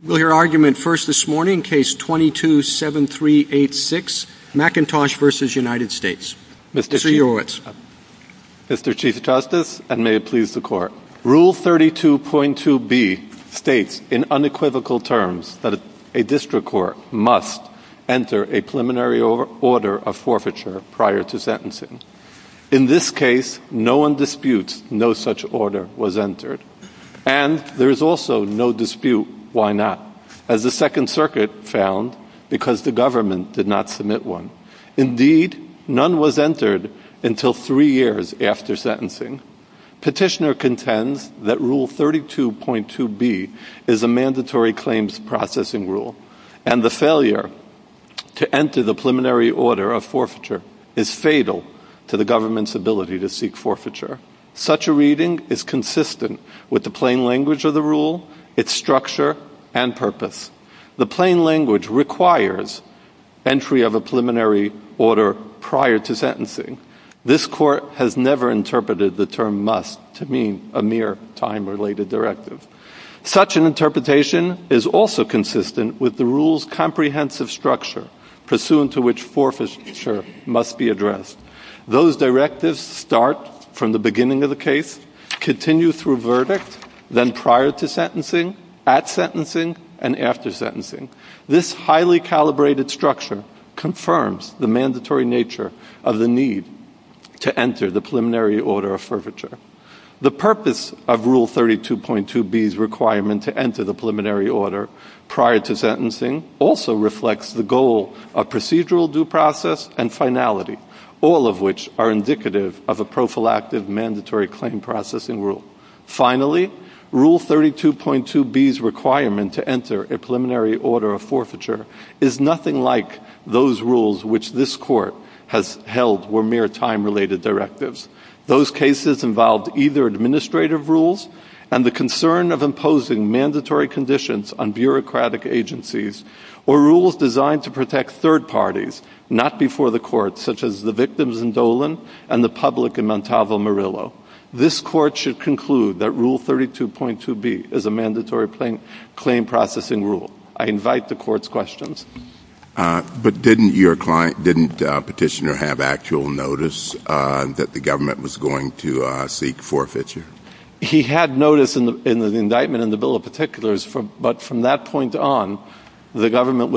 We'll hear argument first this morning, case 22-7386, McIntosh v. United States. Mr. Yourowitz. Mr. Chief Justice, and may it please the Court, Rule 32.2b states in unequivocal terms that a district court must enter a preliminary order of forfeiture prior to sentencing. In this case, no one disputes no such order was entered. And there is also no dispute why not, as the Second Circuit found, because the government did not submit one. Indeed, none was entered until three years after sentencing. Petitioner contends that Rule 32.2b is a mandatory claims processing rule, and the failure to enter the preliminary order of forfeiture is fatal to the government's ability to seek forfeiture. Such a reading is consistent with the plain language of the rule, its structure, and purpose. The plain language requires entry of a preliminary order prior to sentencing. This Court has never interpreted the term must to mean a mere time-related directive. Such an interpretation is also consistent with the address. Those directives start from the beginning of the case, continue through verdict, then prior to sentencing, at sentencing, and after sentencing. This highly calibrated structure confirms the mandatory nature of the need to enter the preliminary order of forfeiture. The purpose of Rule 32.2b's requirement to enter the preliminary order prior to sentencing also reflects the goal of procedural due process and finality, all of which are indicative of a prophylactic mandatory claim processing rule. Finally, Rule 32.2b's requirement to enter a preliminary order of forfeiture is nothing like those rules which this Court has held were mere time-related directives. Those cases involved either administrative rules and the concern of third parties, not before the Court, such as the victims in Dolan and the public in Montalvo, Murillo. This Court should conclude that Rule 32.2b is a mandatory claim processing rule. I invite the Court's questions. But didn't your client, didn't Petitioner have actual notice that the government was going to seek forfeiture? He had notice in the indictment in the Bill of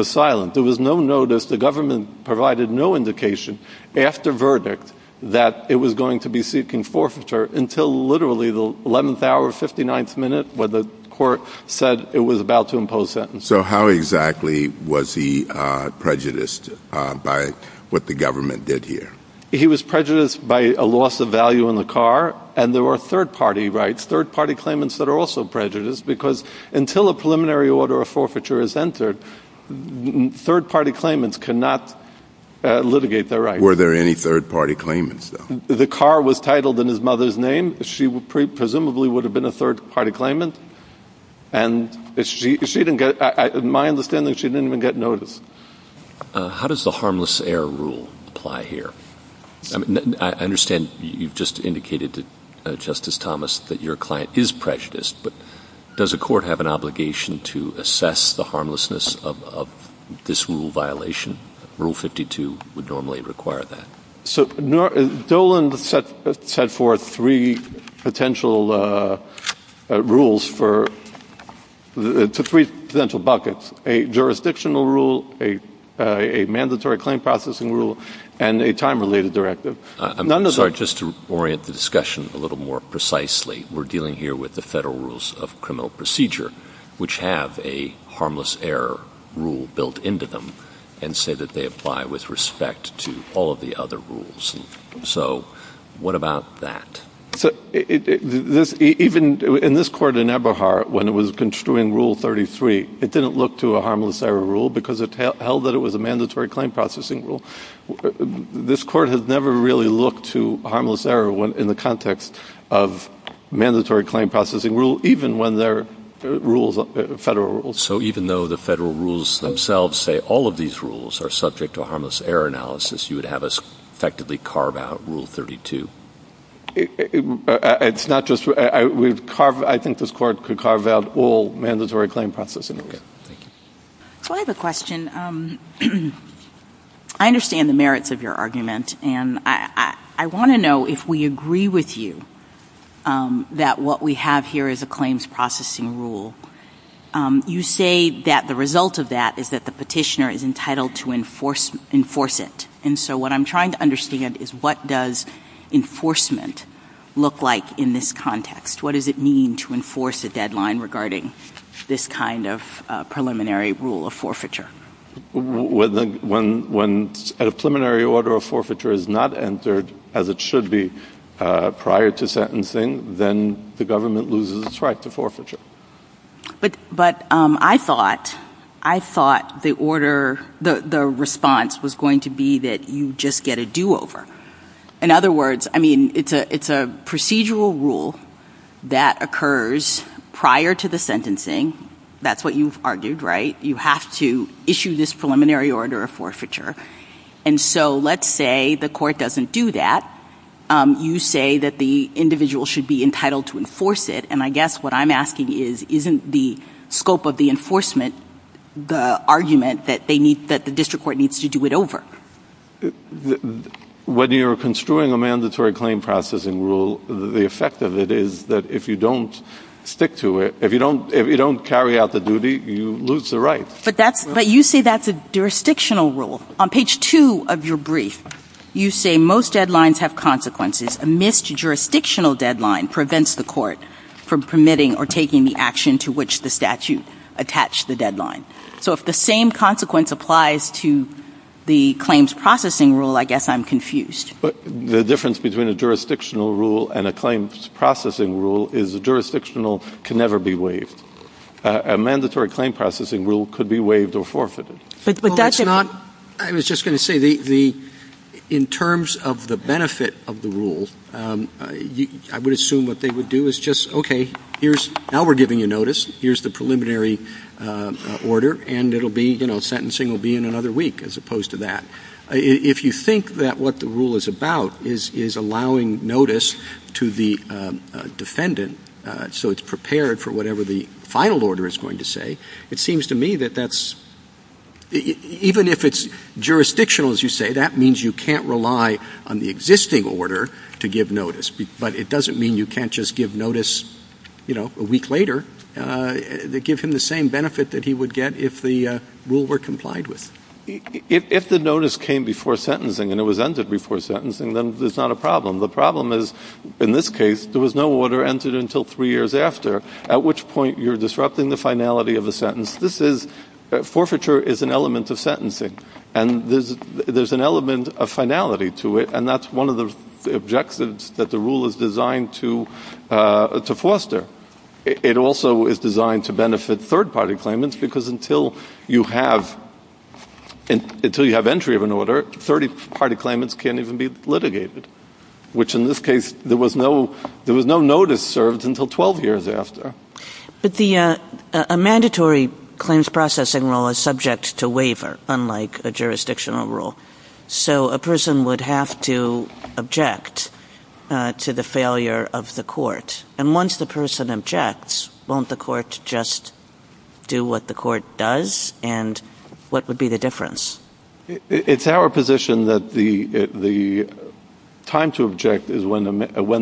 Silence. There was no notice. The government provided no indication after verdict that it was going to be seeking forfeiture until literally the 11th hour, 59th minute when the Court said it was about to impose sentence. So how exactly was he prejudiced by what the government did here? He was prejudiced by a loss of value in the car and there were third party rights, third party claimants that are also prejudiced because until a preliminary order of forfeiture is entered, third party claimants cannot litigate their rights. Were there any third party claimants, though? The car was titled in his mother's name. She presumably would have been a third party claimant and she didn't get, in my understanding, she didn't even get notice. How does the harmless error rule apply here? I understand you've just indicated to Justice Thomas that your client is prejudiced, but does a court have an obligation to assess the harmlessness of this rule violation? Rule 52 would normally require that. So Dolan set forth three potential rules for, to three potential buckets, a jurisdictional rule, a mandatory claim processing rule, and a time-related directive. I'm sorry, just to orient the discussion a little more precisely, we're dealing here with the Federal Rules of Criminal Procedure, which have a harmless error rule built into them and say that they apply with respect to all of the other rules. So what about that? Even in this court in Ebohar, when it was construing Rule 33, it didn't look to a harmless error rule because it held that it was a mandatory claim processing rule. This court has never really looked to a harmless error in the context of mandatory claim processing rule, even when there are rules, Federal Rules. So even though the Federal Rules themselves say all of these rules are subject to a harmless error analysis, you would have us effectively carve out Rule 32? It's not just, I would carve, I think this court could carve out all mandatory claim processing rules. So I have a question. I understand the merits of your argument and I want to know if we agree with you that what we have here is a claims processing rule. You say that the result of that is that the petitioner is entitled to enforce it. And so what I'm trying to understand is what does enforcement look like in this context? What does it mean to enforce a deadline regarding this kind of preliminary rule of forfeiture? When a preliminary order of forfeiture is not entered as it should be prior to sentencing, then the government loses its right to forfeiture. But I thought the order, the response was going to be that you just get a do-over. In other words, I mean, it's a procedural rule that occurs prior to the sentencing. That's what you've argued, right? You have to issue this preliminary order of forfeiture. And so let's say the court doesn't do that. You say that the individual should be entitled to enforce it. And I guess what I'm asking is, isn't the scope of the enforcement, the argument that they need, that the district court needs to do it over? When you're construing a mandatory claim processing rule, the effect of it is that if you don't stick to it, if you don't carry out the duty, you lose the right. But you say that's a jurisdictional rule. On page two of your brief, you say most deadlines have consequences. A missed jurisdictional deadline prevents the court from permitting or taking the action to which the statute attached the deadline. So if the same consequence applies to the claims processing rule, I guess I'm confused. The difference between a jurisdictional rule and a claims processing rule is a jurisdictional can never be waived. A mandatory claim processing rule could be waived or forfeited. I was just going to say, in terms of the benefit of the rule, I would assume what they would do is just, okay, now we're giving you notice. Here's the preliminary order. And it'll be, sentencing will be in another week as opposed to that. If you think that what the rule is about is allowing notice to the defendant so it's prepared for whatever the final order is going to say, it seems to me that that's, even if it's jurisdictional, as you say, that means you can't rely on the existing order to give notice. But it doesn't mean you can't just give notice, you know, a week later. Give him the same benefit that he would get if the rule were complied with. If the notice came before sentencing and it was ended before sentencing, then there's not a problem. The problem is, in this case, there was no order entered until three years after, at which point you're disrupting the finality of a sentence. Forfeiture is an element of sentencing. And there's an element of finality to it. And that's one of the objectives that the rule is designed to foster. It also is designed to benefit third party claimants because until you have entry of an order, third party claimants can't even be litigated, which in this case, there was no notice served until 12 years after. But a mandatory claims processing rule is subject to waiver, unlike a jurisdictional rule. So a person would have to object to the failure of the court. And once the person objects, won't the court just do what the court does? And what would be the difference? It's our position that the time to object is when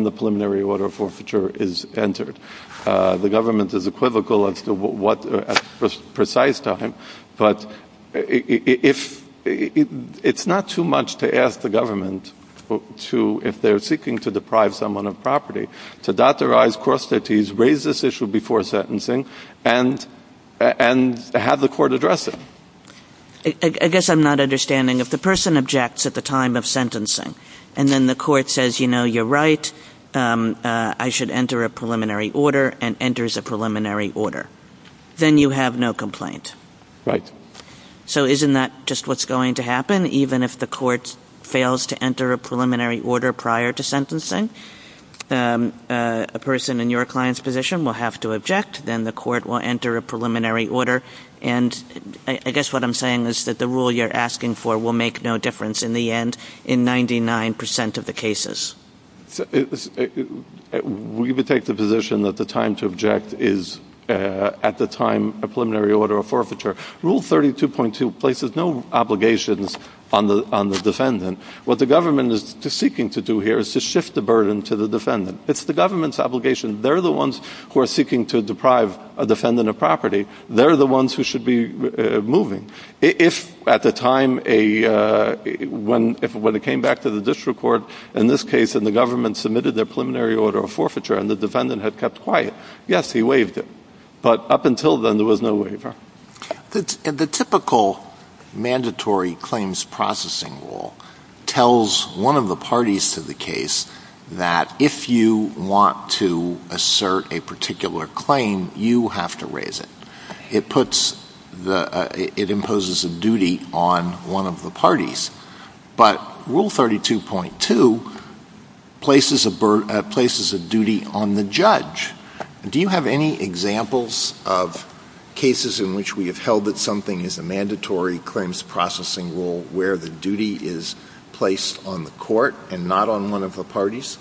the preliminary order forfeiture is entered. The government is equivocal as to what precise time. But it's not too much to ask the government to, if they're seeking to deprive someone of property, to authorize cross treaties, raise this issue before sentencing, and have the court address it. I guess I'm not understanding. If the person objects at the time of sentencing, and then the court says, you know, you're right, I should enter a preliminary order, and enters a preliminary order, then you have no complaint. Right. So isn't that just what's going to happen? Even if the court a person in your client's position will have to object, then the court will enter a preliminary order. And I guess what I'm saying is that the rule you're asking for will make no difference in the end in 99% of the cases. We would take the position that the time to object is at the time a preliminary order or forfeiture. Rule 32.2 places no obligations on the defendant. What the government is seeking to do here is to shift the burden to the defendant. It's the government's obligation. They're the ones who are seeking to deprive a defendant of property. They're the ones who should be moving. If at the time, when it came back to the district court, in this case, and the government submitted their preliminary order of forfeiture, and the defendant had kept quiet, yes, he waived it. But up until then, there was no waiver. The typical mandatory claims processing rule tells one of the parties to the case that if you want to assert a particular claim, you have to raise it. It imposes a duty on one of the parties. But Rule 32.2 places a duty on the judge. Do you have any examples of cases in which we have held that something is a mandatory claims processing rule where the duty is placed on the court and not on one of the parties?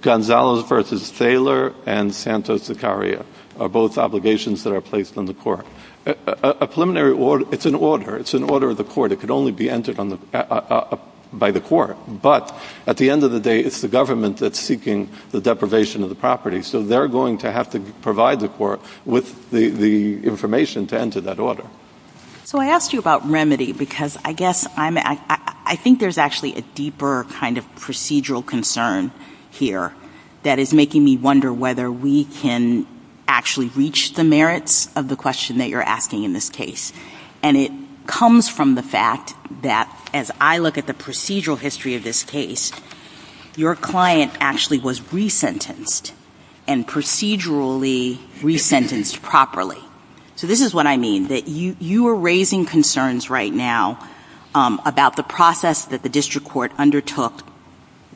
Gonzalez v. Thaler and Santos-Zacaria are both obligations that are placed on the court. A preliminary order, it's an order. It's an order of the court. It could only be entered by the court. But at the end of the day, it's the government that's seeking the deprivation of the property. So they're going to have to provide the court with the information to enter that order. So I asked you about remedy because I think there's actually a deeper kind of procedural concern here that is making me wonder whether we can actually reach the merits of the question that you're asking in this case. And it comes from the fact that as I look at the procedural history of this case, your client actually was resentenced and procedurally resentenced properly. So this is what I mean, that you are raising concerns right now about the process that the district court undertook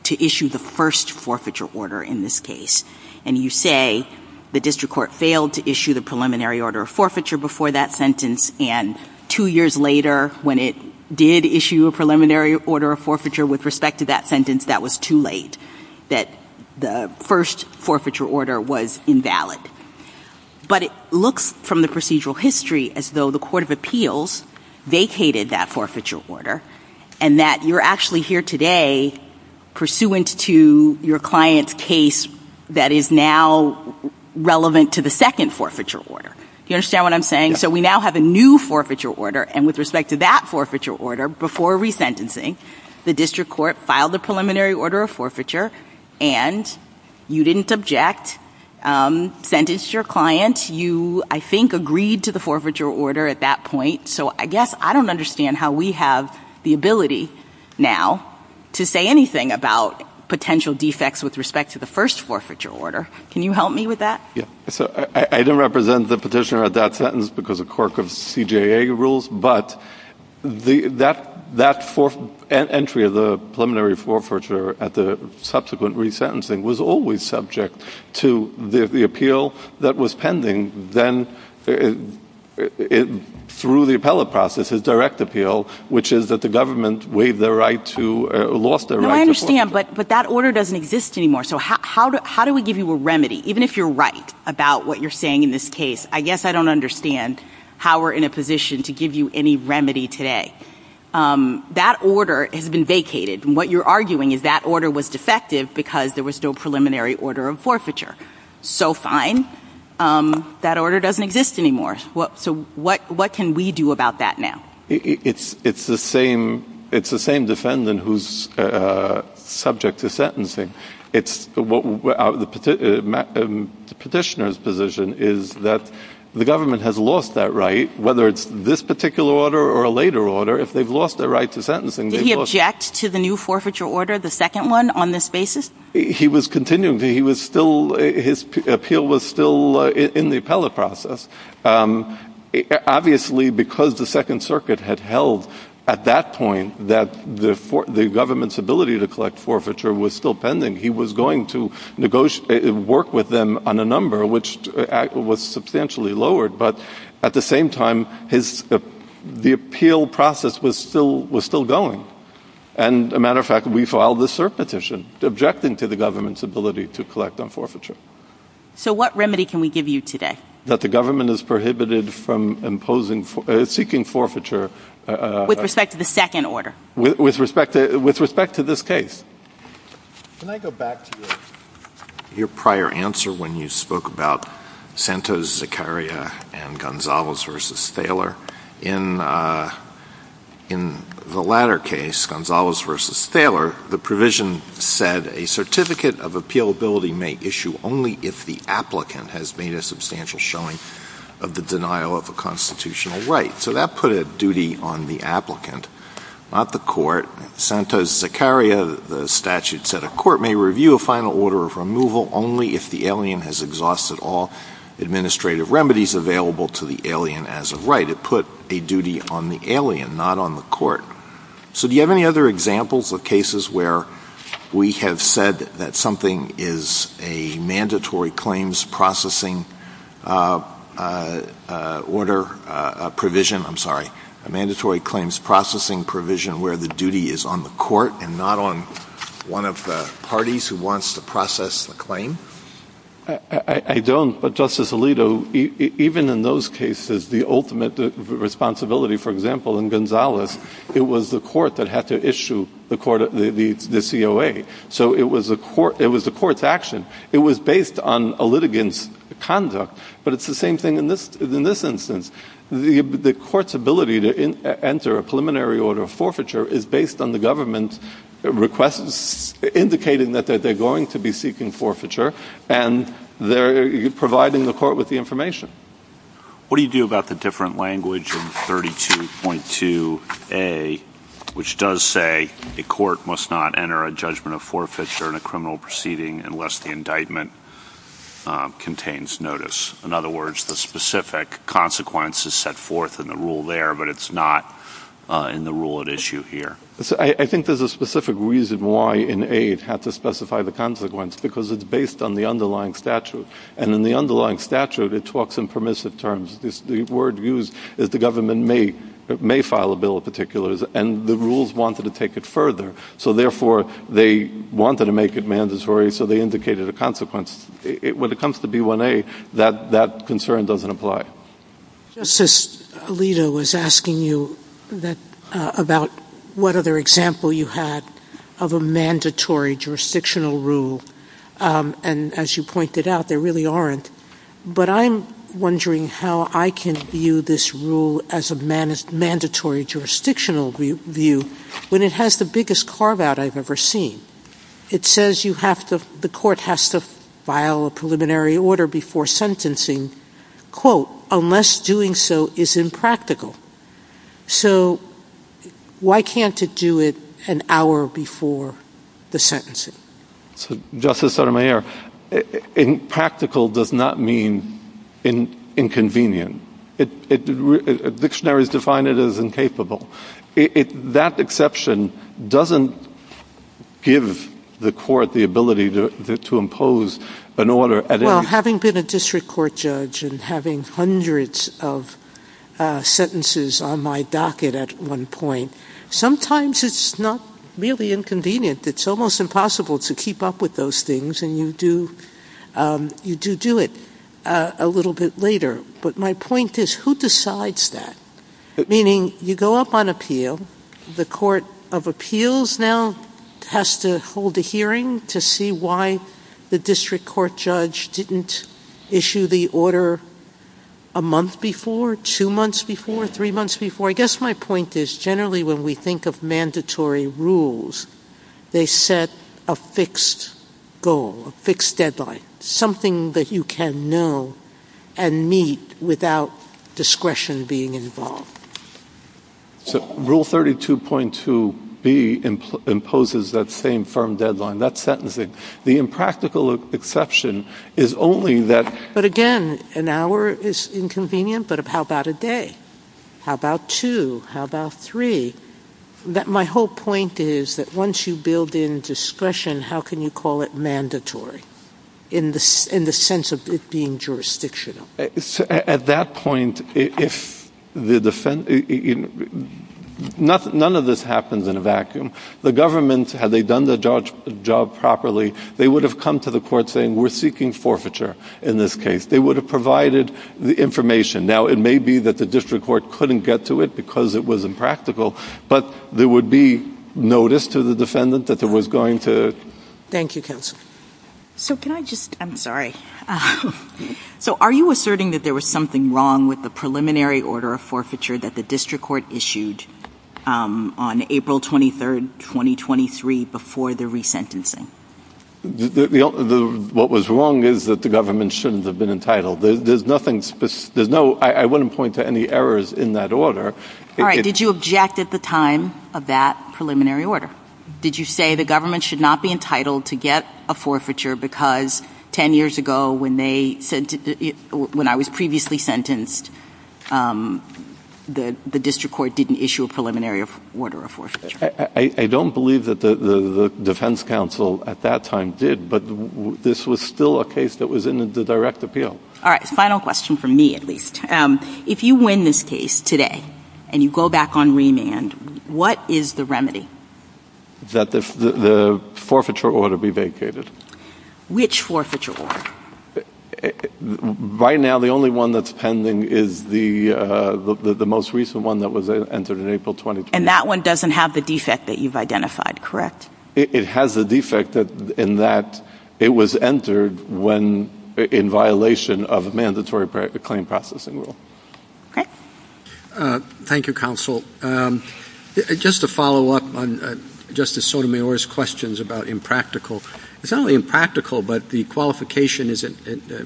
to issue the first forfeiture order in this case. And you say the district court failed to issue the preliminary order of forfeiture before that sentence. And two years later, when it did issue a preliminary order of forfeiture with respect to that sentence, that was too late. That the first forfeiture order was invalid. But it looks from the procedural history as though the court of appeals vacated that forfeiture order and that you're actually here today pursuant to your client's case that is now relevant to the second forfeiture order. Do you understand what I'm saying? So we now have a new forfeiture order and with respect to that forfeiture order, before resentencing, the district court filed the preliminary order of forfeiture and you didn't object, sentenced your client. You, I think, agreed to the forfeiture order at that point. So I guess I don't understand how we have the ability now to say anything about potential defects with respect to the first forfeiture order. Can you help me with that? Yeah. So I didn't represent the petitioner at that sentence because of CJA rules, but that entry of the preliminary forfeiture at the subsequent resentencing was always subject to the appeal that was pending then through the appellate process, his direct appeal, which is that the government lost their right to forfeiture. No, I understand, but that order doesn't exist anymore. So how do we give you a remedy? Even if you're right about what you're saying in this case, I guess I don't understand how we're in a position to give you any remedy today. That order has been vacated and what you're arguing is that order was defective because there was no preliminary order of forfeiture. So fine. That order doesn't exist anymore. So what can we do about that now? It's the same defendant who's subject to sentencing. The petitioner's position is that the government has lost that right, whether it's this particular order or a later order, if they've lost their right to sentencing. Did he object to the new forfeiture order, the second one on this basis? He was continuing. His appeal was still in the appellate process. Obviously, because the second circuit had held at that point that the government's ability to collect forfeiture was still pending, he was going to work with them on a number which was substantially lowered. But at the same time, the appeal process was still going. And a matter of fact, we filed this cert petition objecting to the government's ability to collect on forfeiture. So what remedy can we give you today? That the government is prohibited from imposing, seeking forfeiture. With respect to the second order? With respect to this case. Can I go back to your prior answer when you spoke about Santos, Zakaria, and Gonzalez versus Thaler? In the latter case, Gonzalez versus Thaler, the provision said a certificate of appealability may issue only if the applicant has made a substantial showing of the denial of a constitutional right. So that put a duty on the applicant, not the court. Santos, Zakaria, the statute said a court may review a final order of removal only if the alien has exhausted all a duty on the alien, not on the court. So do you have any other examples of cases where we have said that something is a mandatory claims processing order provision, I'm sorry, a mandatory claims processing provision where the duty is on the court and not on one of the parties who wants to process the claim? I don't, but Justice Alito, even in those cases, the ultimate responsibility, for example, in Gonzalez, it was the court that had to issue the COA. So it was the court's action. It was based on a litigant's conduct. But it's the same thing in this instance. The court's ability to enter a preliminary order of forfeiture is based on the government requests indicating that they're going to be seeking forfeiture, and they're providing the court with the information. What do you do about the different language in 32.2a, which does say a court must not enter a judgment of forfeiture in a criminal proceeding unless the indictment contains notice? In other words, the specific consequences set forth in the rule there, but it's not in the rule at issue here. I think there's a specific reason why in A it had to specify the consequence, because it's based on the underlying statute. And in the underlying statute, it talks in permissive terms. The word used is the government may file a bill of particulars, and the rules wanted to take it further. So therefore, they wanted to make it mandatory, so they indicated a consequence. When it comes to B1A, that concern doesn't apply. Justice Alito was asking you about what other example you had of a mandatory jurisdictional rule. And as you pointed out, there really aren't. But I'm wondering how I can view this rule as a mandatory jurisdictional view when it has the biggest carve-out I've ever seen. It says the court has to file a preliminary order before sentencing, quote, unless doing so is impractical. So why can't it do it an hour before the sentencing? Justice Sotomayor, impractical does not mean inconvenient. Dictionaries define it as the court has the ability to impose an order. Well, having been a district court judge and having hundreds of sentences on my docket at one point, sometimes it's not really inconvenient. It's almost impossible to keep up with those things, and you do do it a little bit later. But my point is, who decides that? Meaning, you go up on appeal, the court of appeals now has to hold a hearing to see why the district court judge didn't issue the order a month before, two months before, three months before. I guess my point is, generally when we think of mandatory rules, they set a fixed goal, a fixed deadline, something that you can know and meet without discretion being involved. So rule 32.2B imposes that same firm deadline, that's sentencing. The impractical exception is only that... But again, an hour is inconvenient, but how about a day? How about two? How about three? My whole point is that once you build in discretion, how can you call it mandatory in the sense of it being jurisdictional? At that point, if the defendant... None of this happens in a vacuum. The government, had they done the job properly, they would have come to the court saying, we're seeking forfeiture in this case. They would have provided the information. Now, it may be that the district court couldn't get to it because it was impractical, but there would be notice to the defendant that there was going to... Thank you, counsel. So can I just... I'm sorry. So are you asserting that there was something wrong with the preliminary order of forfeiture that the district court issued on April 23rd, 2023 before the resentencing? What was wrong is that the government shouldn't have been entitled. There's nothing... I wouldn't point to any errors in that order. All right. Did you object at the time of that preliminary order? Did you say the government should not be entitled to get a forfeiture because 10 years ago when I was previously sentenced, the district court didn't issue a preliminary order of forfeiture? I don't believe that the defense counsel at that time did, but this was still a case that was in the direct appeal. All right. Final question from me, at least. If you win this case today and you go back on remand, what is the remedy? That the forfeiture order be vacated. Which forfeiture order? Right now, the only one that's pending is the most recent one that was entered in April 2020. And that one doesn't have the defect that you've identified, correct? It has the defect in that it was entered in violation of a mandatory claim processing rule. Okay. Thank you, counsel. Just to follow up on Justice Sotomayor's questions about impractical, it's not only impractical, but the qualification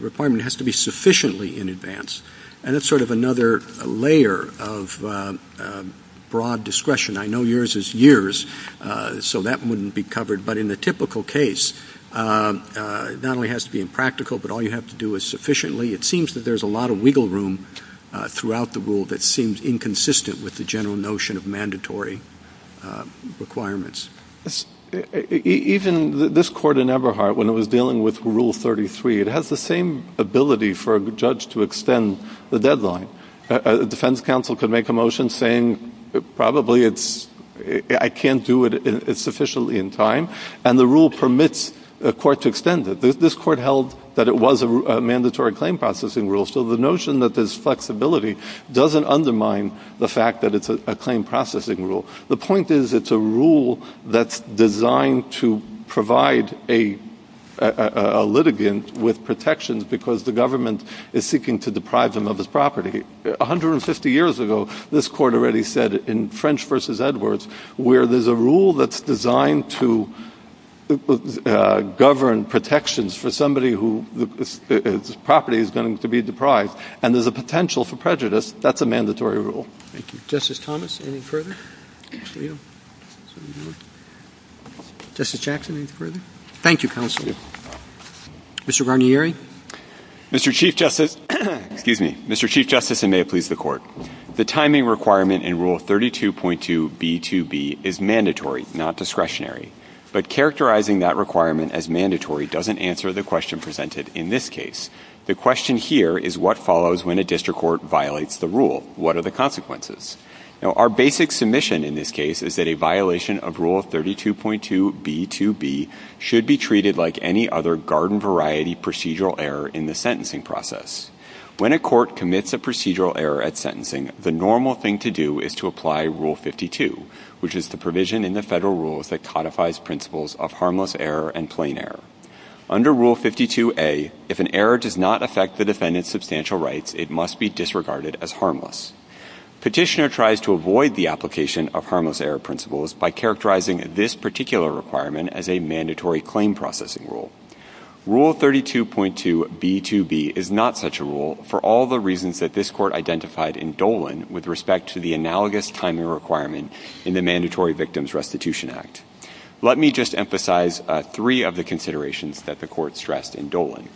requirement has to be sufficiently in advance. And that's in the typical case, not only has to be impractical, but all you have to do is sufficiently. It seems that there's a lot of wiggle room throughout the rule that seems inconsistent with the general notion of mandatory requirements. Even this court in Eberhardt, when it was dealing with Rule 33, it has the same ability for a judge to extend the deadline. A defense counsel could make a motion saying, probably I can't do it sufficiently in time. And the rule permits a court to extend it. This court held that it was a mandatory claim processing rule. So the notion that there's flexibility doesn't undermine the fact that it's a claim processing rule. The point is, it's a rule that's designed to provide a government is seeking to deprive them of his property. 150 years ago, this court already said in French v. Edwards, where there's a rule that's designed to govern protections for somebody whose property is going to be deprived, and there's a potential for prejudice, that's a mandatory rule. Thank you. Justice Thomas, any further? Justice Jackson, any further? Thank you, counsel. Mr. Guarnieri? Mr. Chief Justice, and may it please the court. The timing requirement in Rule 32.2b2b is mandatory, not discretionary. But characterizing that requirement as mandatory doesn't answer the question presented in this case. The question here is what follows when a district court violates the rule? What are the consequences? Our basic submission in this case is that a violation of Rule 32.2b2b should be treated like any other garden-variety procedural error in the sentencing process. When a court commits a procedural error at sentencing, the normal thing to do is to apply Rule 52, which is the provision in the federal rules that codifies principles of harmless error and plain error. Under Rule 52a, if an error does not affect the defendant's substantial rights, it must be disregarded as harmless. Petitioner tries to avoid the application of harmless error by characterizing this particular requirement as a mandatory claim processing rule. Rule 32.2b2b is not such a rule for all the reasons that this court identified in Dolan with respect to the analogous timing requirement in the Mandatory Victims Restitution Act. Let me just emphasize three of the considerations that the court stressed in Dolan,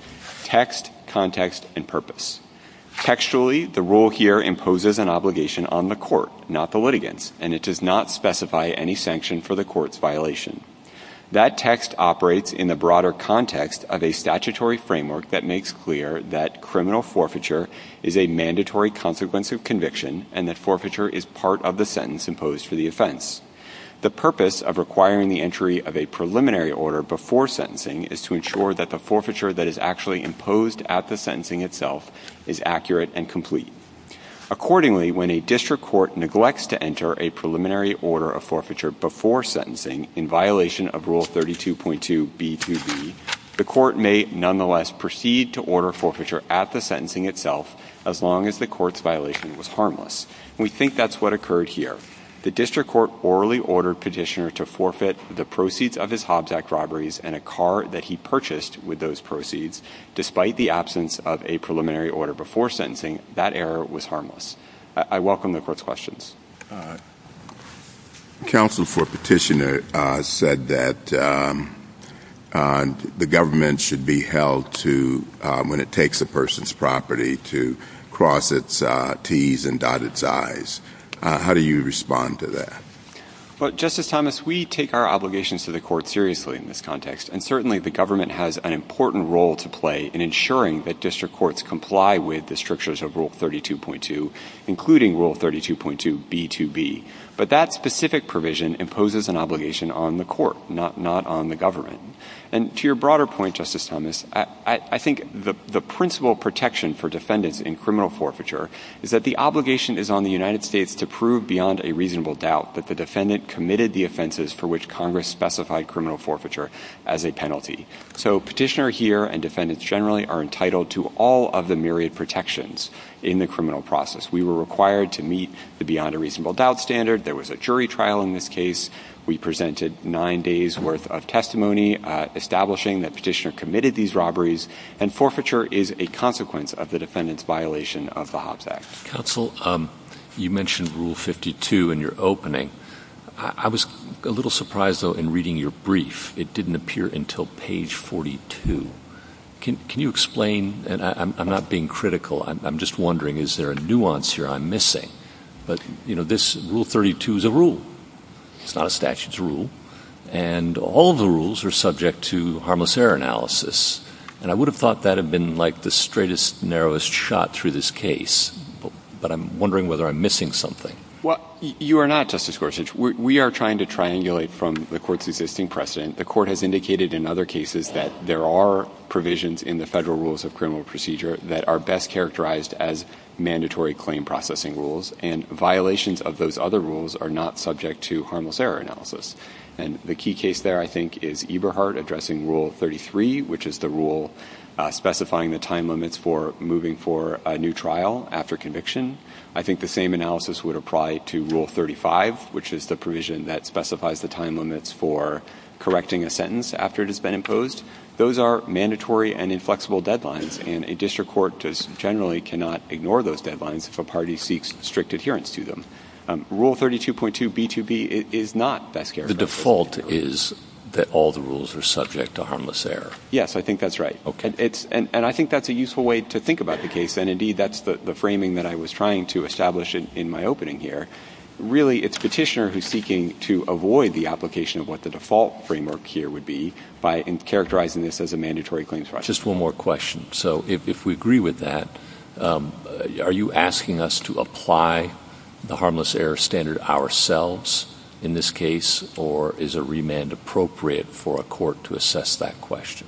text, context, and purpose. Textually, the rule here imposes an obligation on the court, not the litigants, and it does not specify any sanction for the court's violation. That text operates in the broader context of a statutory framework that makes clear that criminal forfeiture is a mandatory consequence of conviction and that forfeiture is part of the sentence imposed for the offense. The purpose of requiring the entry of a preliminary order before sentencing is to ensure that the forfeiture that is actually imposed at the a preliminary order of forfeiture before sentencing in violation of Rule 32.2b2b, the court may nonetheless proceed to order forfeiture at the sentencing itself as long as the court's violation was harmless. We think that's what occurred here. The district court orally ordered Petitioner to forfeit the proceeds of his Hobbs Act robberies and a car that he purchased with those proceeds. Despite the absence of a preliminary order before sentencing, that error was harmless. I welcome the court's questions. Counsel for Petitioner said that the government should be held to when it takes a person's property to cross its T's and dot its I's. How do you respond to that? Justice Thomas, we take our obligations to the court seriously in this context, and certainly the government has an important role to play in ensuring that district courts comply with the strictures of Rule 32.2, including Rule 32.2b2b. But that specific provision imposes an obligation on the court, not on the government. And to your broader point, Justice Thomas, I think the principal protection for defendants in criminal forfeiture is that the obligation is on the United States to prove beyond a reasonable doubt that the defendant committed the offenses for which Congress specified criminal forfeiture as a penalty. So Petitioner here and myriad protections in the criminal process. We were required to meet the beyond a reasonable doubt standard. There was a jury trial in this case. We presented nine days' worth of testimony establishing that Petitioner committed these robberies, and forfeiture is a consequence of the defendant's violation of the Hobbs Act. Counsel, you mentioned Rule 52 in your opening. I was a little surprised, though, in reading your brief. It didn't appear until page 42. Can you explain? And I'm not being critical. I'm just wondering, is there a nuance here I'm missing? But, you know, Rule 32 is a rule. It's not a statute's rule. And all the rules are subject to harmless error analysis. And I would have thought that had been, like, the straightest, narrowest shot through this case. But I'm wondering whether I'm missing something. Well, you are not, Justice Gorsuch. We are trying to triangulate from the Court's existing precedent. The Court has indicated in other cases that there are provisions in the Federal Rules of Criminal Procedure that are best characterized as mandatory claim processing rules. And violations of those other rules are not subject to harmless error analysis. And the key case there, I think, is Eberhardt addressing Rule 33, which is the rule specifying the time limits for moving for a new trial after conviction. I think the same analysis would apply to Rule 35, which is the provision that specifies the time limits for correcting a sentence after it has been imposed. Those are mandatory and inflexible deadlines. And a district court just generally cannot ignore those deadlines if a party seeks strict adherence to them. Rule 32.2B2B is not best characterized. The default is that all the rules are subject to harmless error. Yes, I think that's right. And I think that's a useful way to think about the case. And, indeed, that's the framing that I was trying to establish in my opening here. Really, it's Petitioner who's seeking to avoid the application of what the default framework here would be by characterizing this as a mandatory claim process. Just one more question. So if we agree with that, are you asking us to apply the harmless error standard ourselves in this case, or is a remand appropriate for a court to assess that question?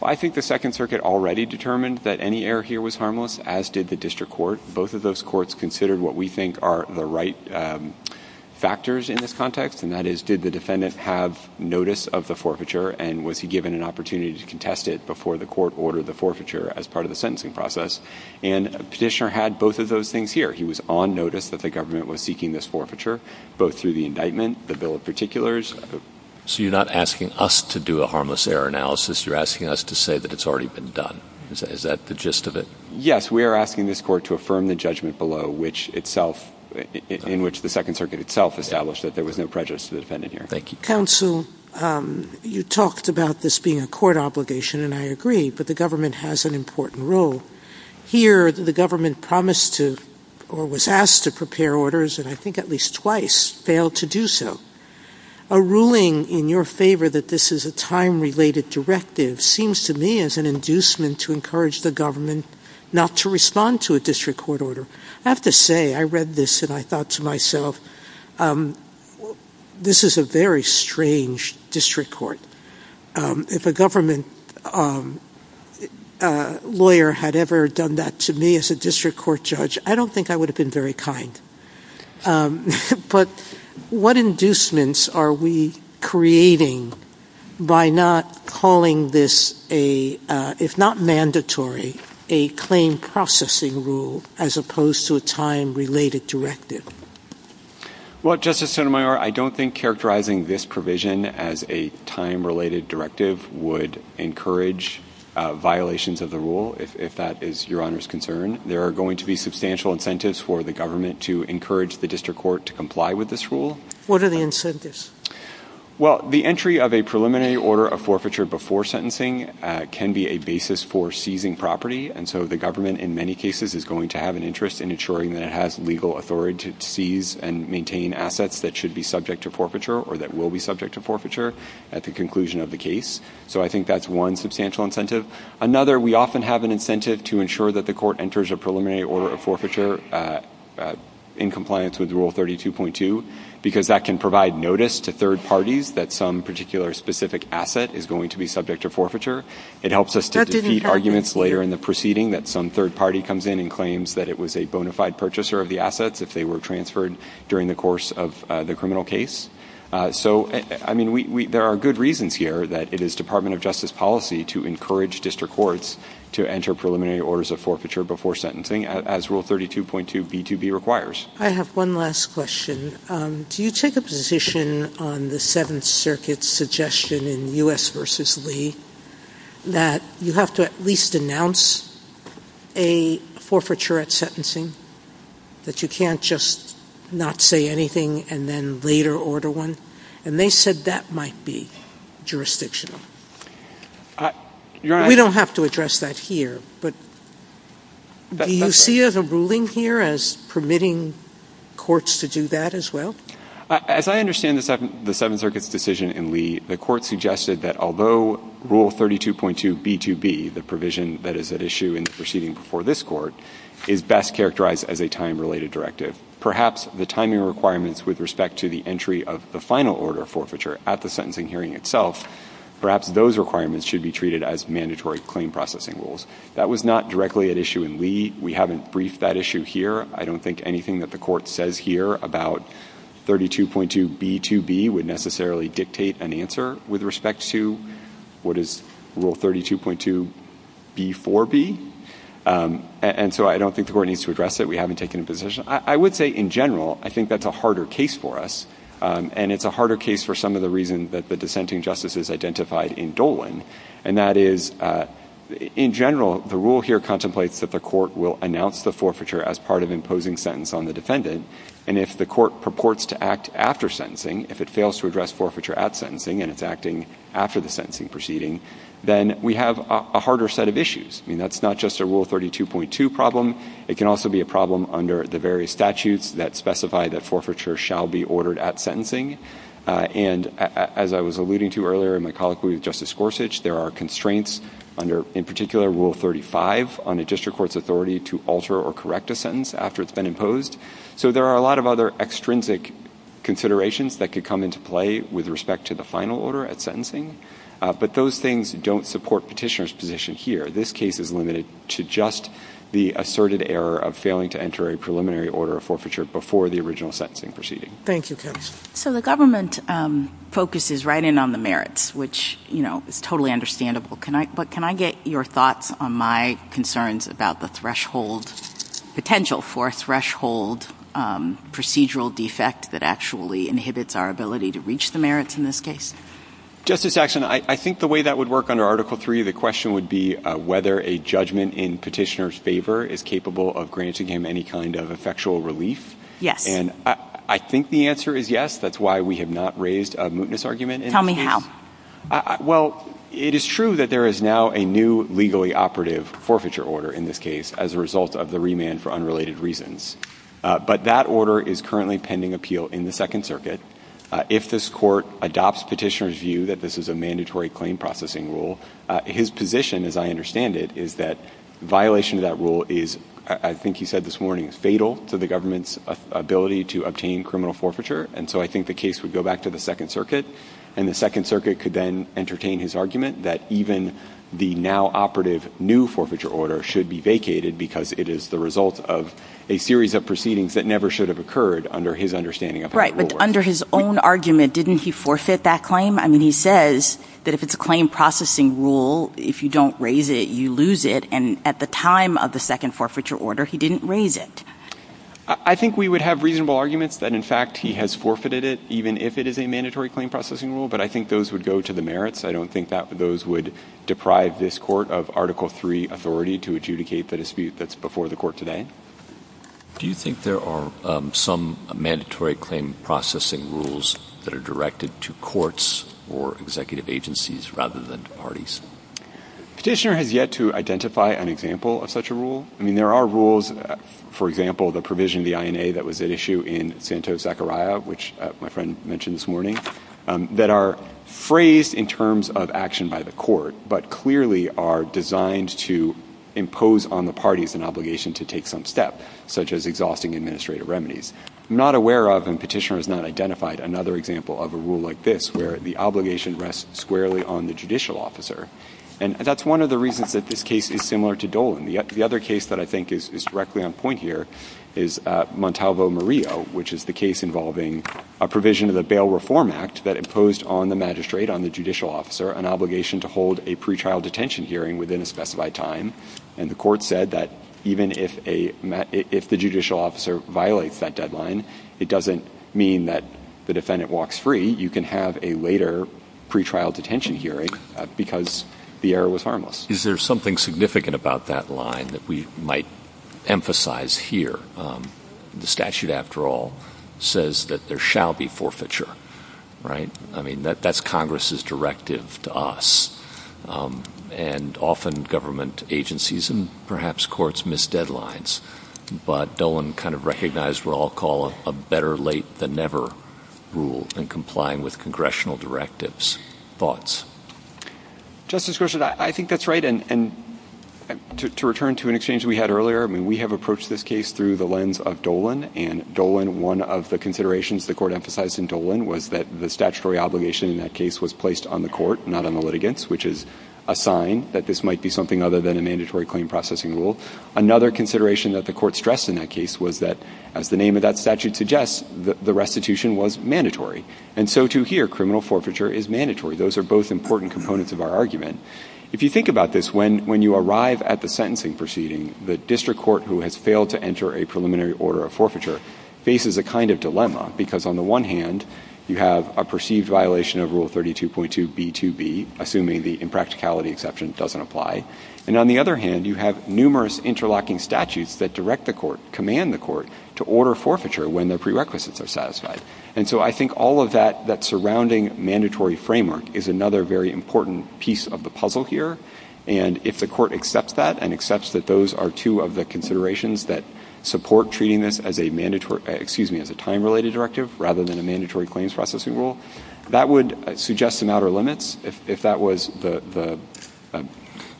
Well, I think the Second Circuit already determined that any error here was harmless, as did the district court. Both of those courts considered what we think are the right factors in this context, and that is, did the defendant have notice of the forfeiture, and was he given an opportunity to contest it before the court ordered the forfeiture as part of the sentencing process? And Petitioner had both of those things here. He was on notice that the government was seeking this forfeiture, both through the indictment, the bill of particulars. So you're not asking us to do a harmless error analysis. You're asking us to say that it's already been done. Is that the gist of it? Yes, we are asking this court to affirm the judgment below, in which the Second Circuit itself established that there was no prejudice to the defendant here. Thank you. Counsel, you talked about this being a court obligation, and I agree, but the government has an important role. Here, the government promised to, or was asked to prepare orders, and I think at least twice, failed to do so. A ruling in your favor that this is a time-related directive seems to me as an inducement to encourage the government not to respond to a district court order. I have to say, I read this and I thought to myself, this is a very strange district court. If a government lawyer had ever done that to me as a district court judge, I don't think I would have been very kind. Um, but what inducements are we creating by not calling this a, uh, if not mandatory, a claim processing rule as opposed to a time-related directive? Well, Justice Sotomayor, I don't think characterizing this provision as a time-related directive would encourage violations of the rule, if that is your Honor's concern. There are going to be substantial incentives for the government to encourage the district court to comply with this rule. What are the incentives? Well, the entry of a preliminary order of forfeiture before sentencing can be a basis for seizing property, and so the government, in many cases, is going to have an interest in ensuring that it has legal authority to seize and maintain assets that should be subject to forfeiture or that will be subject to forfeiture at the conclusion of the case. So I think that's one substantial incentive. Another, we often have an incentive to ensure that the court enters a order of forfeiture in compliance with Rule 32.2 because that can provide notice to third parties that some particular specific asset is going to be subject to forfeiture. It helps us to defeat arguments later in the proceeding that some third party comes in and claims that it was a bona fide purchaser of the assets if they were transferred during the course of the criminal case. So, I mean, there are good reasons here that it is Department of Justice policy to encourage district courts to enter preliminary orders of forfeiture before sentencing, as Rule 32.2b2b requires. I have one last question. Do you take a position on the Seventh Circuit's suggestion in U.S. v. Lee that you have to at least announce a forfeiture at sentencing, that you can't just not say anything and then later order one? And they said that might be jurisdictional. We don't have to address that here, but do you see as a ruling here as permitting courts to do that as well? As I understand the Seventh Circuit's decision in Lee, the court suggested that although Rule 32.2b2b, the provision that is at issue in the proceeding before this court, is best characterized as a time-related directive, perhaps the timing requirements with respect to the entry of the final order of forfeiture at the sentencing hearing itself, perhaps those requirements should be treated as mandatory claim processing rules. That was not directly at issue in Lee. We haven't briefed that issue here. I don't think anything that the court says here about 32.2b2b would necessarily dictate an answer with respect to what is Rule 32.2b4b. And so I don't think the court needs to address it. We haven't taken a position. I would say in general, I think that's a harder case for us. And it's a harder case for some of the reasons that the dissenting justices identified in Dolan, and that is in general, the rule here contemplates that the court will announce the forfeiture as part of imposing sentence on the defendant. And if the court purports to act after sentencing, if it fails to address forfeiture at sentencing and it's acting after the sentencing proceeding, then we have a harder set of issues. I mean, that's not just a Rule 32.2 problem. It can also be a problem under the various statutes that specify that forfeiture shall be ordered at sentencing. And as I was alluding to earlier in my colloquy with Justice Gorsuch, there are constraints under, in particular, Rule 35 on a district court's authority to alter or correct a sentence after it's been imposed. So there are a lot of other extrinsic considerations that could come into play with respect to the final order at sentencing. But those things don't support petitioner's position here. This case is limited to just the asserted error of failing to enter a preliminary order of forfeiture before the original sentencing proceeding. Thank you, counsel. So the government focuses right in on the merits, which is totally understandable. But can I get your thoughts on my concerns about the threshold, potential for a threshold procedural defect that actually inhibits our ability to reach the merits in this case? Justice Saxon, I think the way that would work under Article 3, the question would be whether a judgment in petitioner's favor is capable of granting him any kind of effectual relief. Yes. And I think the answer is yes. That's why we have not raised a mootness argument. Tell me how. Well, it is true that there is now a new legally operative forfeiture order in this case as a result of the remand for unrelated reasons. But that order is currently pending appeal in the Second Circuit. If this court adopts petitioner's view that this is a mandatory claim processing rule, his position, as I understand it, is that violation of that rule is, I think he said this morning, is fatal to the government's ability to obtain criminal forfeiture. And so I think the case would go back to the Second Circuit. And the Second Circuit could then entertain his argument that even the now operative new forfeiture order should be vacated because it is the result of a series of proceedings that never should have occurred under his understanding of how it will work. Right. But under his own argument, didn't he forfeit that claim? I mean, he says that if it's a claim processing rule, if you don't raise it, you lose it. And at the time of the second forfeiture order, he didn't raise it. I think we would have reasonable arguments that, in fact, he has forfeited it even if it is a mandatory claim processing rule. But I think those would go to the merits. I don't think that those would deprive this Court of Article III authority to adjudicate the dispute that's before the Court today. Do you think there are some mandatory claim processing rules that are directed to courts or executive agencies rather than to parties? Petitioner has yet to identify an example of such a rule. I mean, there are rules, for example, the provision of the INA that was at issue in Santos-Zachariah, which my friend mentioned this morning, that are phrased in terms of action by the Court, but clearly are designed to impose on the parties an obligation to take some step, such as exhausting administrative remedies. I'm not aware of, and Petitioner has not identified, another example of a rule like this, where the obligation rests squarely on the judicial officer. And that's one of the reasons that this case is similar to Dolan. The other case that I think is directly on point here is Montalvo-Murillo, which is the case involving a provision of the Bail Reform Act that imposed on the magistrate, on the judicial officer, an obligation to hold a pretrial detention hearing within a specified time. And the Court said that even if the judicial officer violates that deadline, it doesn't mean that the defendant walks free. You can have a later pretrial detention hearing because the error was harmless. Is there something significant about that line that we might emphasize here? The statute, after all, says that there shall be forfeiture, right? I mean, that's Congress's directive to us. And often government agencies and perhaps courts miss deadlines. But Dolan kind of recognized what I'll call a better late than never rule in complying with congressional directives. Thoughts? Justice Gershwin, I think that's right. And to return to an exchange we had earlier, I mean, we have approached this case through the lens of Dolan. And Dolan, one of the considerations the Court emphasized in Dolan was that the statutory obligation in that case was placed on the Court, not on the litigants, which is a sign that this might be something other than a mandatory claim processing rule. Another consideration that the Court stressed in that case was that, as the name of that And so to hear criminal forfeiture is mandatory. Those are both important components of our argument. If you think about this, when you arrive at the sentencing proceeding, the district court who has failed to enter a preliminary order of forfeiture faces a kind of dilemma. Because on the one hand, you have a perceived violation of Rule 32.2B2B, assuming the impracticality exception doesn't apply. And on the other hand, you have numerous interlocking statutes that direct the Court, command the Court to order forfeiture when their prerequisites are satisfied. And so I think all of that, that surrounding mandatory framework is another very important piece of the puzzle here. And if the Court accepts that and accepts that those are two of the considerations that support treating this as a mandatory, excuse me, as a time-related directive rather than a mandatory claims processing rule, that would suggest some outer limits. If that was the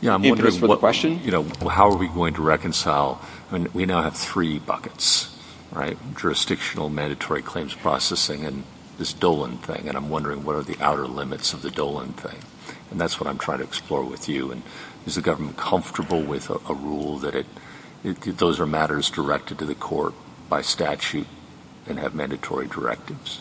impetus for the question. Yeah, I'm wondering, you know, how are we going to reconcile? I mean, we now have three buckets, right? Jurisdictional mandatory claims processing and this Dolan thing. And I'm wondering, what are the outer limits of the Dolan thing? And that's what I'm trying to explore with you. And is the government comfortable with a rule that those are matters directed to the Court by statute and have mandatory directives?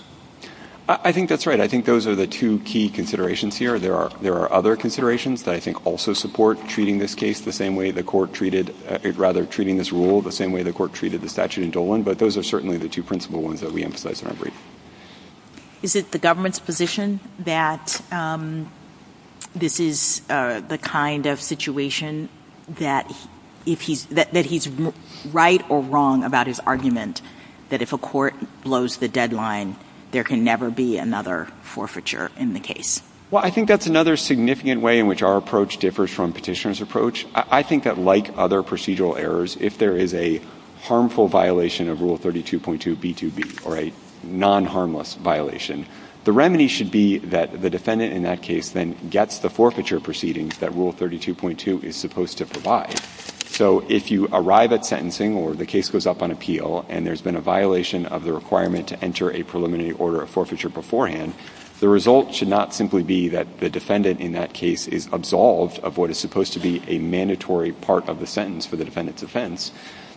I think that's right. I think those are the two key considerations here. There are other considerations that I think also support treating this case the same way the Court treated, rather treating this rule the same way the Court treated the statute in Dolan. But those are certainly the two principal ones that we emphasize in our brief. Is it the government's position that this is the kind of situation that if he's, that he's right or wrong about his argument, that if a court blows the deadline, there can never be another forfeiture in the case? Well, I think that's another significant way in which our approach differs from the court's approach. I think that like other procedural errors, if there is a harmful violation of Rule 32.2B2B or a non-harmless violation, the remedy should be that the defendant in that case then gets the forfeiture proceedings that Rule 32.2 is supposed to provide. So if you arrive at sentencing or the case goes up on appeal and there's been a violation of the requirement to enter a preliminary order of forfeiture beforehand, the result should not simply be that the defendant in that case is absolved of what is supposed to be a mandatory part of the sentence for the defendant's offense.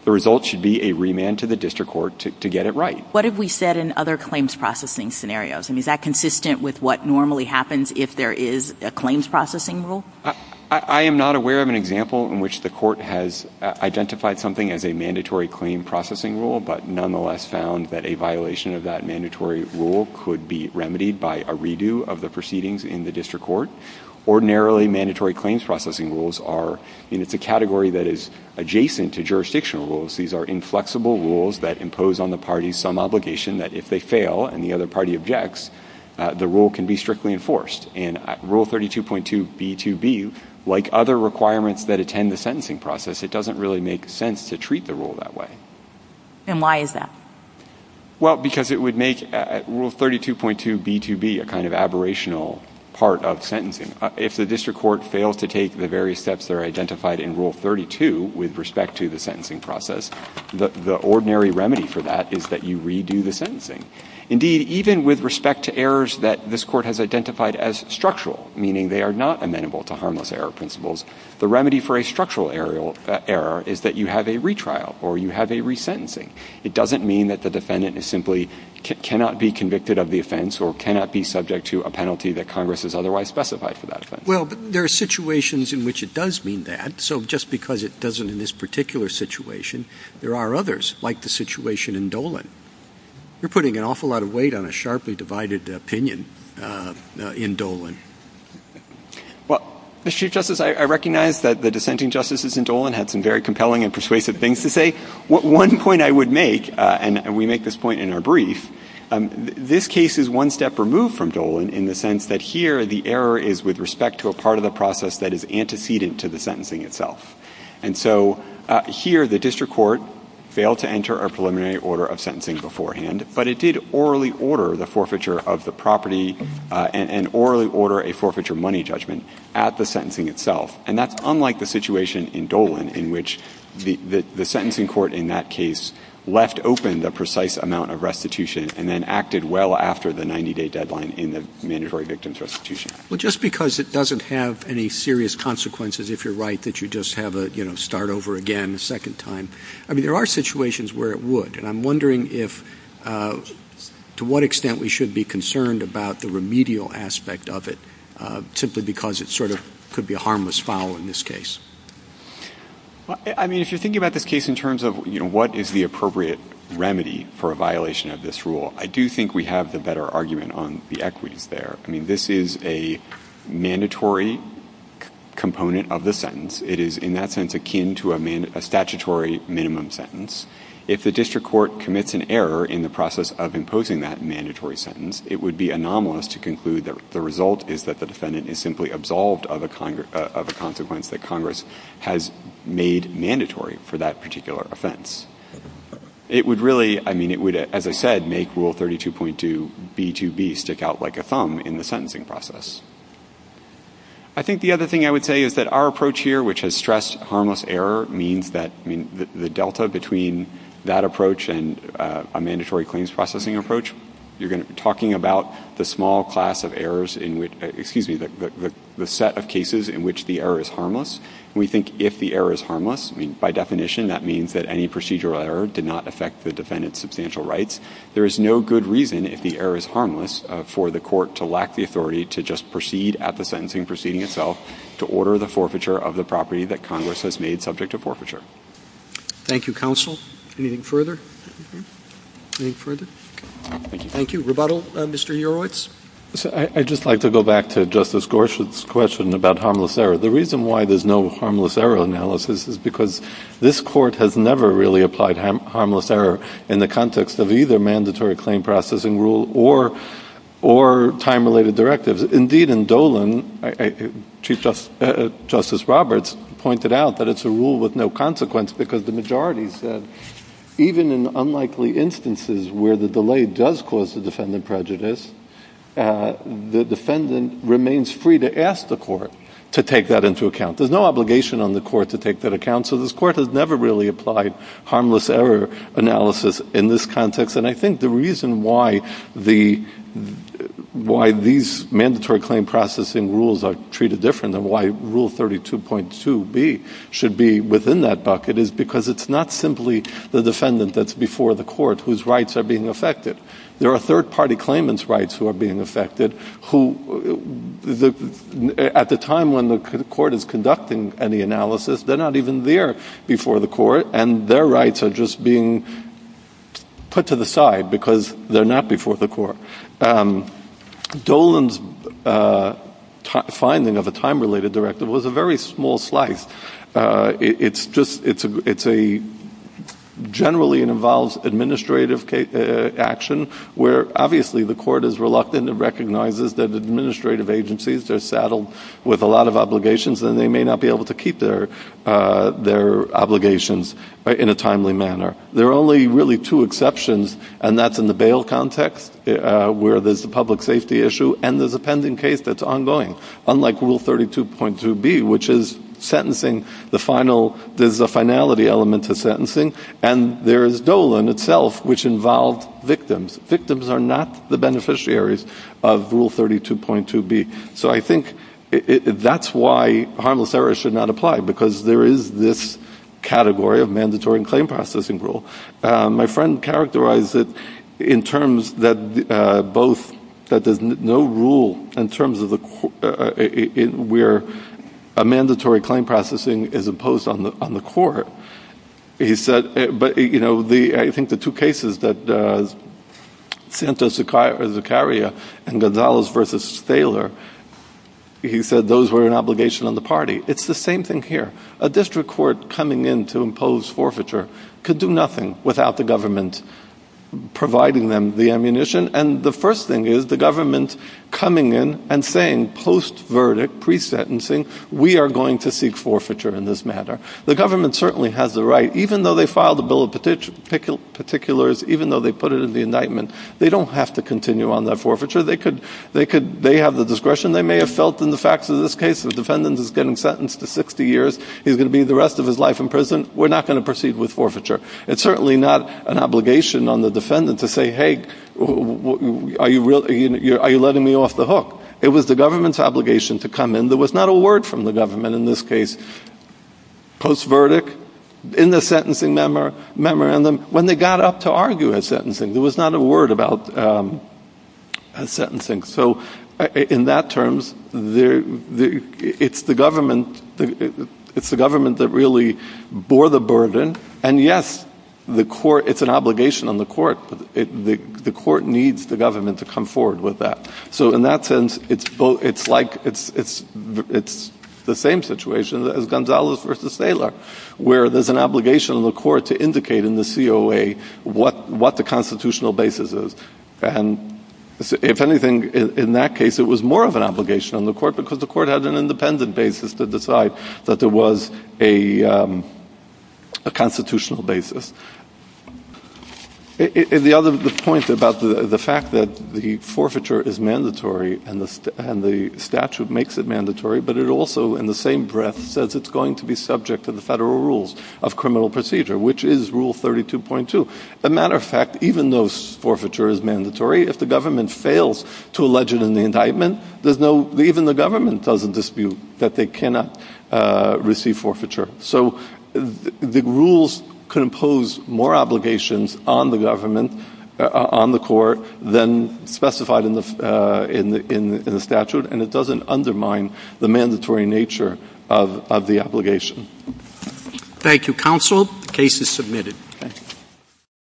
The result should be a remand to the district court to get it right. What have we said in other claims processing scenarios? I mean, is that consistent with what normally happens if there is a claims processing rule? I am not aware of an example in which the court has identified something as a mandatory claim processing rule, but nonetheless found that a violation of that ordinarily mandatory claims processing rules are, I mean, it's a category that is adjacent to jurisdictional rules. These are inflexible rules that impose on the parties some obligation that if they fail and the other party objects, the rule can be strictly enforced. And Rule 32.2B2B, like other requirements that attend the sentencing process, it doesn't really make sense to treat the rule that way. And why is that? Well, because it would make Rule 32.2B2B a kind of aberrational part of sentencing. If the district court fails to take the various steps that are identified in Rule 32 with respect to the sentencing process, the ordinary remedy for that is that you redo the sentencing. Indeed, even with respect to errors that this court has identified as structural, meaning they are not amenable to harmless error principles, the remedy for a structural error is that you have a retrial or you have a resentencing. It doesn't mean that the defendant is simply cannot be convicted of the offense or cannot be subject to a penalty that Congress has otherwise specified for that offense. Well, but there are situations in which it does mean that. So just because it doesn't in this particular situation, there are others like the situation in Dolan. You're putting an awful lot of weight on a sharply divided opinion in Dolan. Well, Mr. Chief Justice, I recognize that the dissenting justices in Dolan had some very compelling and persuasive things to say. One point I would make, and we make this point in our brief, this case is one step removed from Dolan in the sense that here the error is with respect to a part of the process that is antecedent to the sentencing itself. And so here the district court failed to enter a preliminary order of sentencing beforehand, but it did orally order the forfeiture of the property and orally order a forfeiture money judgment at the sentencing itself. And that's unlike the situation in Dolan in which the sentencing court in that case left open the precise amount of restitution and then acted well after the 90-day deadline in the mandatory victim's restitution. Well, just because it doesn't have any serious consequences, if you're right, that you just have a, you know, start over again a second time, I mean, there are situations where it would. And I'm wondering if, to what extent we should be concerned about the remedial aspect of it simply because it sort of could be a foul in this case. Well, I mean, if you're thinking about this case in terms of, you know, what is the appropriate remedy for a violation of this rule, I do think we have the better argument on the equities there. I mean, this is a mandatory component of the sentence. It is in that sense akin to a statutory minimum sentence. If the district court commits an error in the process of imposing that mandatory sentence, it would be anomalous to conclude that the result is that the defendant is simply absolved of a consequence that Congress has made mandatory for that particular offense. It would really, I mean, it would, as I said, make Rule 32.2b2b stick out like a thumb in the sentencing process. I think the other thing I would say is that our approach here, which has stressed harmless error, means that, I mean, the delta between that approach and a mandatory claims processing approach, you're talking about the small class of errors in which, excuse me, the set of cases in which the error is harmless. And we think if the error is harmless, I mean, by definition that means that any procedural error did not affect the defendant's substantial rights. There is no good reason, if the error is harmless, for the court to lack the authority to just proceed at the sentencing proceeding itself to order the forfeiture of the property that Congress has made subject to forfeiture. Thank you, counsel. Anything further? Anything further? Thank you. Rebuttal, Mr. Urewicz? I'd just like to go back to Justice Gorsuch's question about harmless error. The reason why there's no harmless error analysis is because this Court has never really applied harmless error in the context of either mandatory claim processing rule or time-related directives. Indeed, in Dolan, Chief Justice Roberts pointed out that it's a rule with no consequence because the majority said even in unlikely instances where the delay does cause the defendant prejudice, the defendant remains free to ask the court to take that into account. There's no obligation on the court to take that account, so this Court has never really applied harmless error analysis in this context. And I think the reason why these mandatory claim processing rules are treated different and why Rule 32.2b should be within that bucket is because it's not simply the defendant that's before the court whose rights are being affected. There are third-party claimants' rights who are being affected who, at the time when the court is conducting any analysis, they're not even there before the court, and their rights are just being put to the side because they're not before the court. Dolan's finding of a time-related directive was a very small slice. It's a generally involves administrative action where obviously the court is reluctant and recognizes that administrative agencies are saddled with a lot of obligations and they may not be able to keep their obligations in a timely manner. There are only really two exceptions, and that's in the bail context where there's a public safety issue and there's a pending case that's ongoing, unlike Rule 32.2b, which is sentencing the final, there's a finality element to sentencing, and there is Dolan itself, which involved victims. Victims are not the beneficiaries of Rule 32.2b. So I think that's why harmless errors should not apply, because there is this category of mandatory and claim processing rule. My friend characterized it in terms that both, that there's no rule in terms of where a mandatory claim processing is imposed on the court. He said, but, you know, I think the two cases that Santos Zuccaria and Gonzalez v. Thaler, he said those were an obligation on the party. It's the same thing here. A district court coming in to impose forfeiture could do nothing without the government providing them the ammunition, and the first thing is the government coming in and saying post-verdict, pre-sentencing, we are going to seek forfeiture in this matter. The government certainly has the right, even though they filed a bill of particulars, even though they put it in the indictment, they don't have to continue on that forfeiture. They have the discretion they may have felt in the facts of this case. If a defendant is getting sentenced to 60 years, he's going to be the It's certainly not an obligation on the defendant to say, hey, are you letting me off the hook? It was the government's obligation to come in. There was not a word from the government in this case. Post-verdict, in the sentencing memorandum, when they got up to argue at sentencing, there was not a word about sentencing. So in that terms, it's the burden, and yes, it's an obligation on the court, but the court needs the government to come forward with that. So in that sense, it's the same situation as Gonzalez versus Saylor, where there's an obligation on the court to indicate in the COA what the constitutional basis is. And if anything, in that case, it was more of an obligation on the court because the court had an independent basis to decide that there was a constitutional basis. The other point about the fact that the forfeiture is mandatory and the statute makes it mandatory, but it also, in the same breath, says it's going to be subject to the federal rules of criminal procedure, which is Rule 32.2. As a matter of fact, even though forfeiture is mandatory, if the government fails to allege it in the government doesn't dispute that they cannot receive forfeiture. So the rules can impose more obligations on the government, on the court, than specified in the statute, and it doesn't undermine the mandatory nature of the obligation. Thank you, counsel. The case is submitted.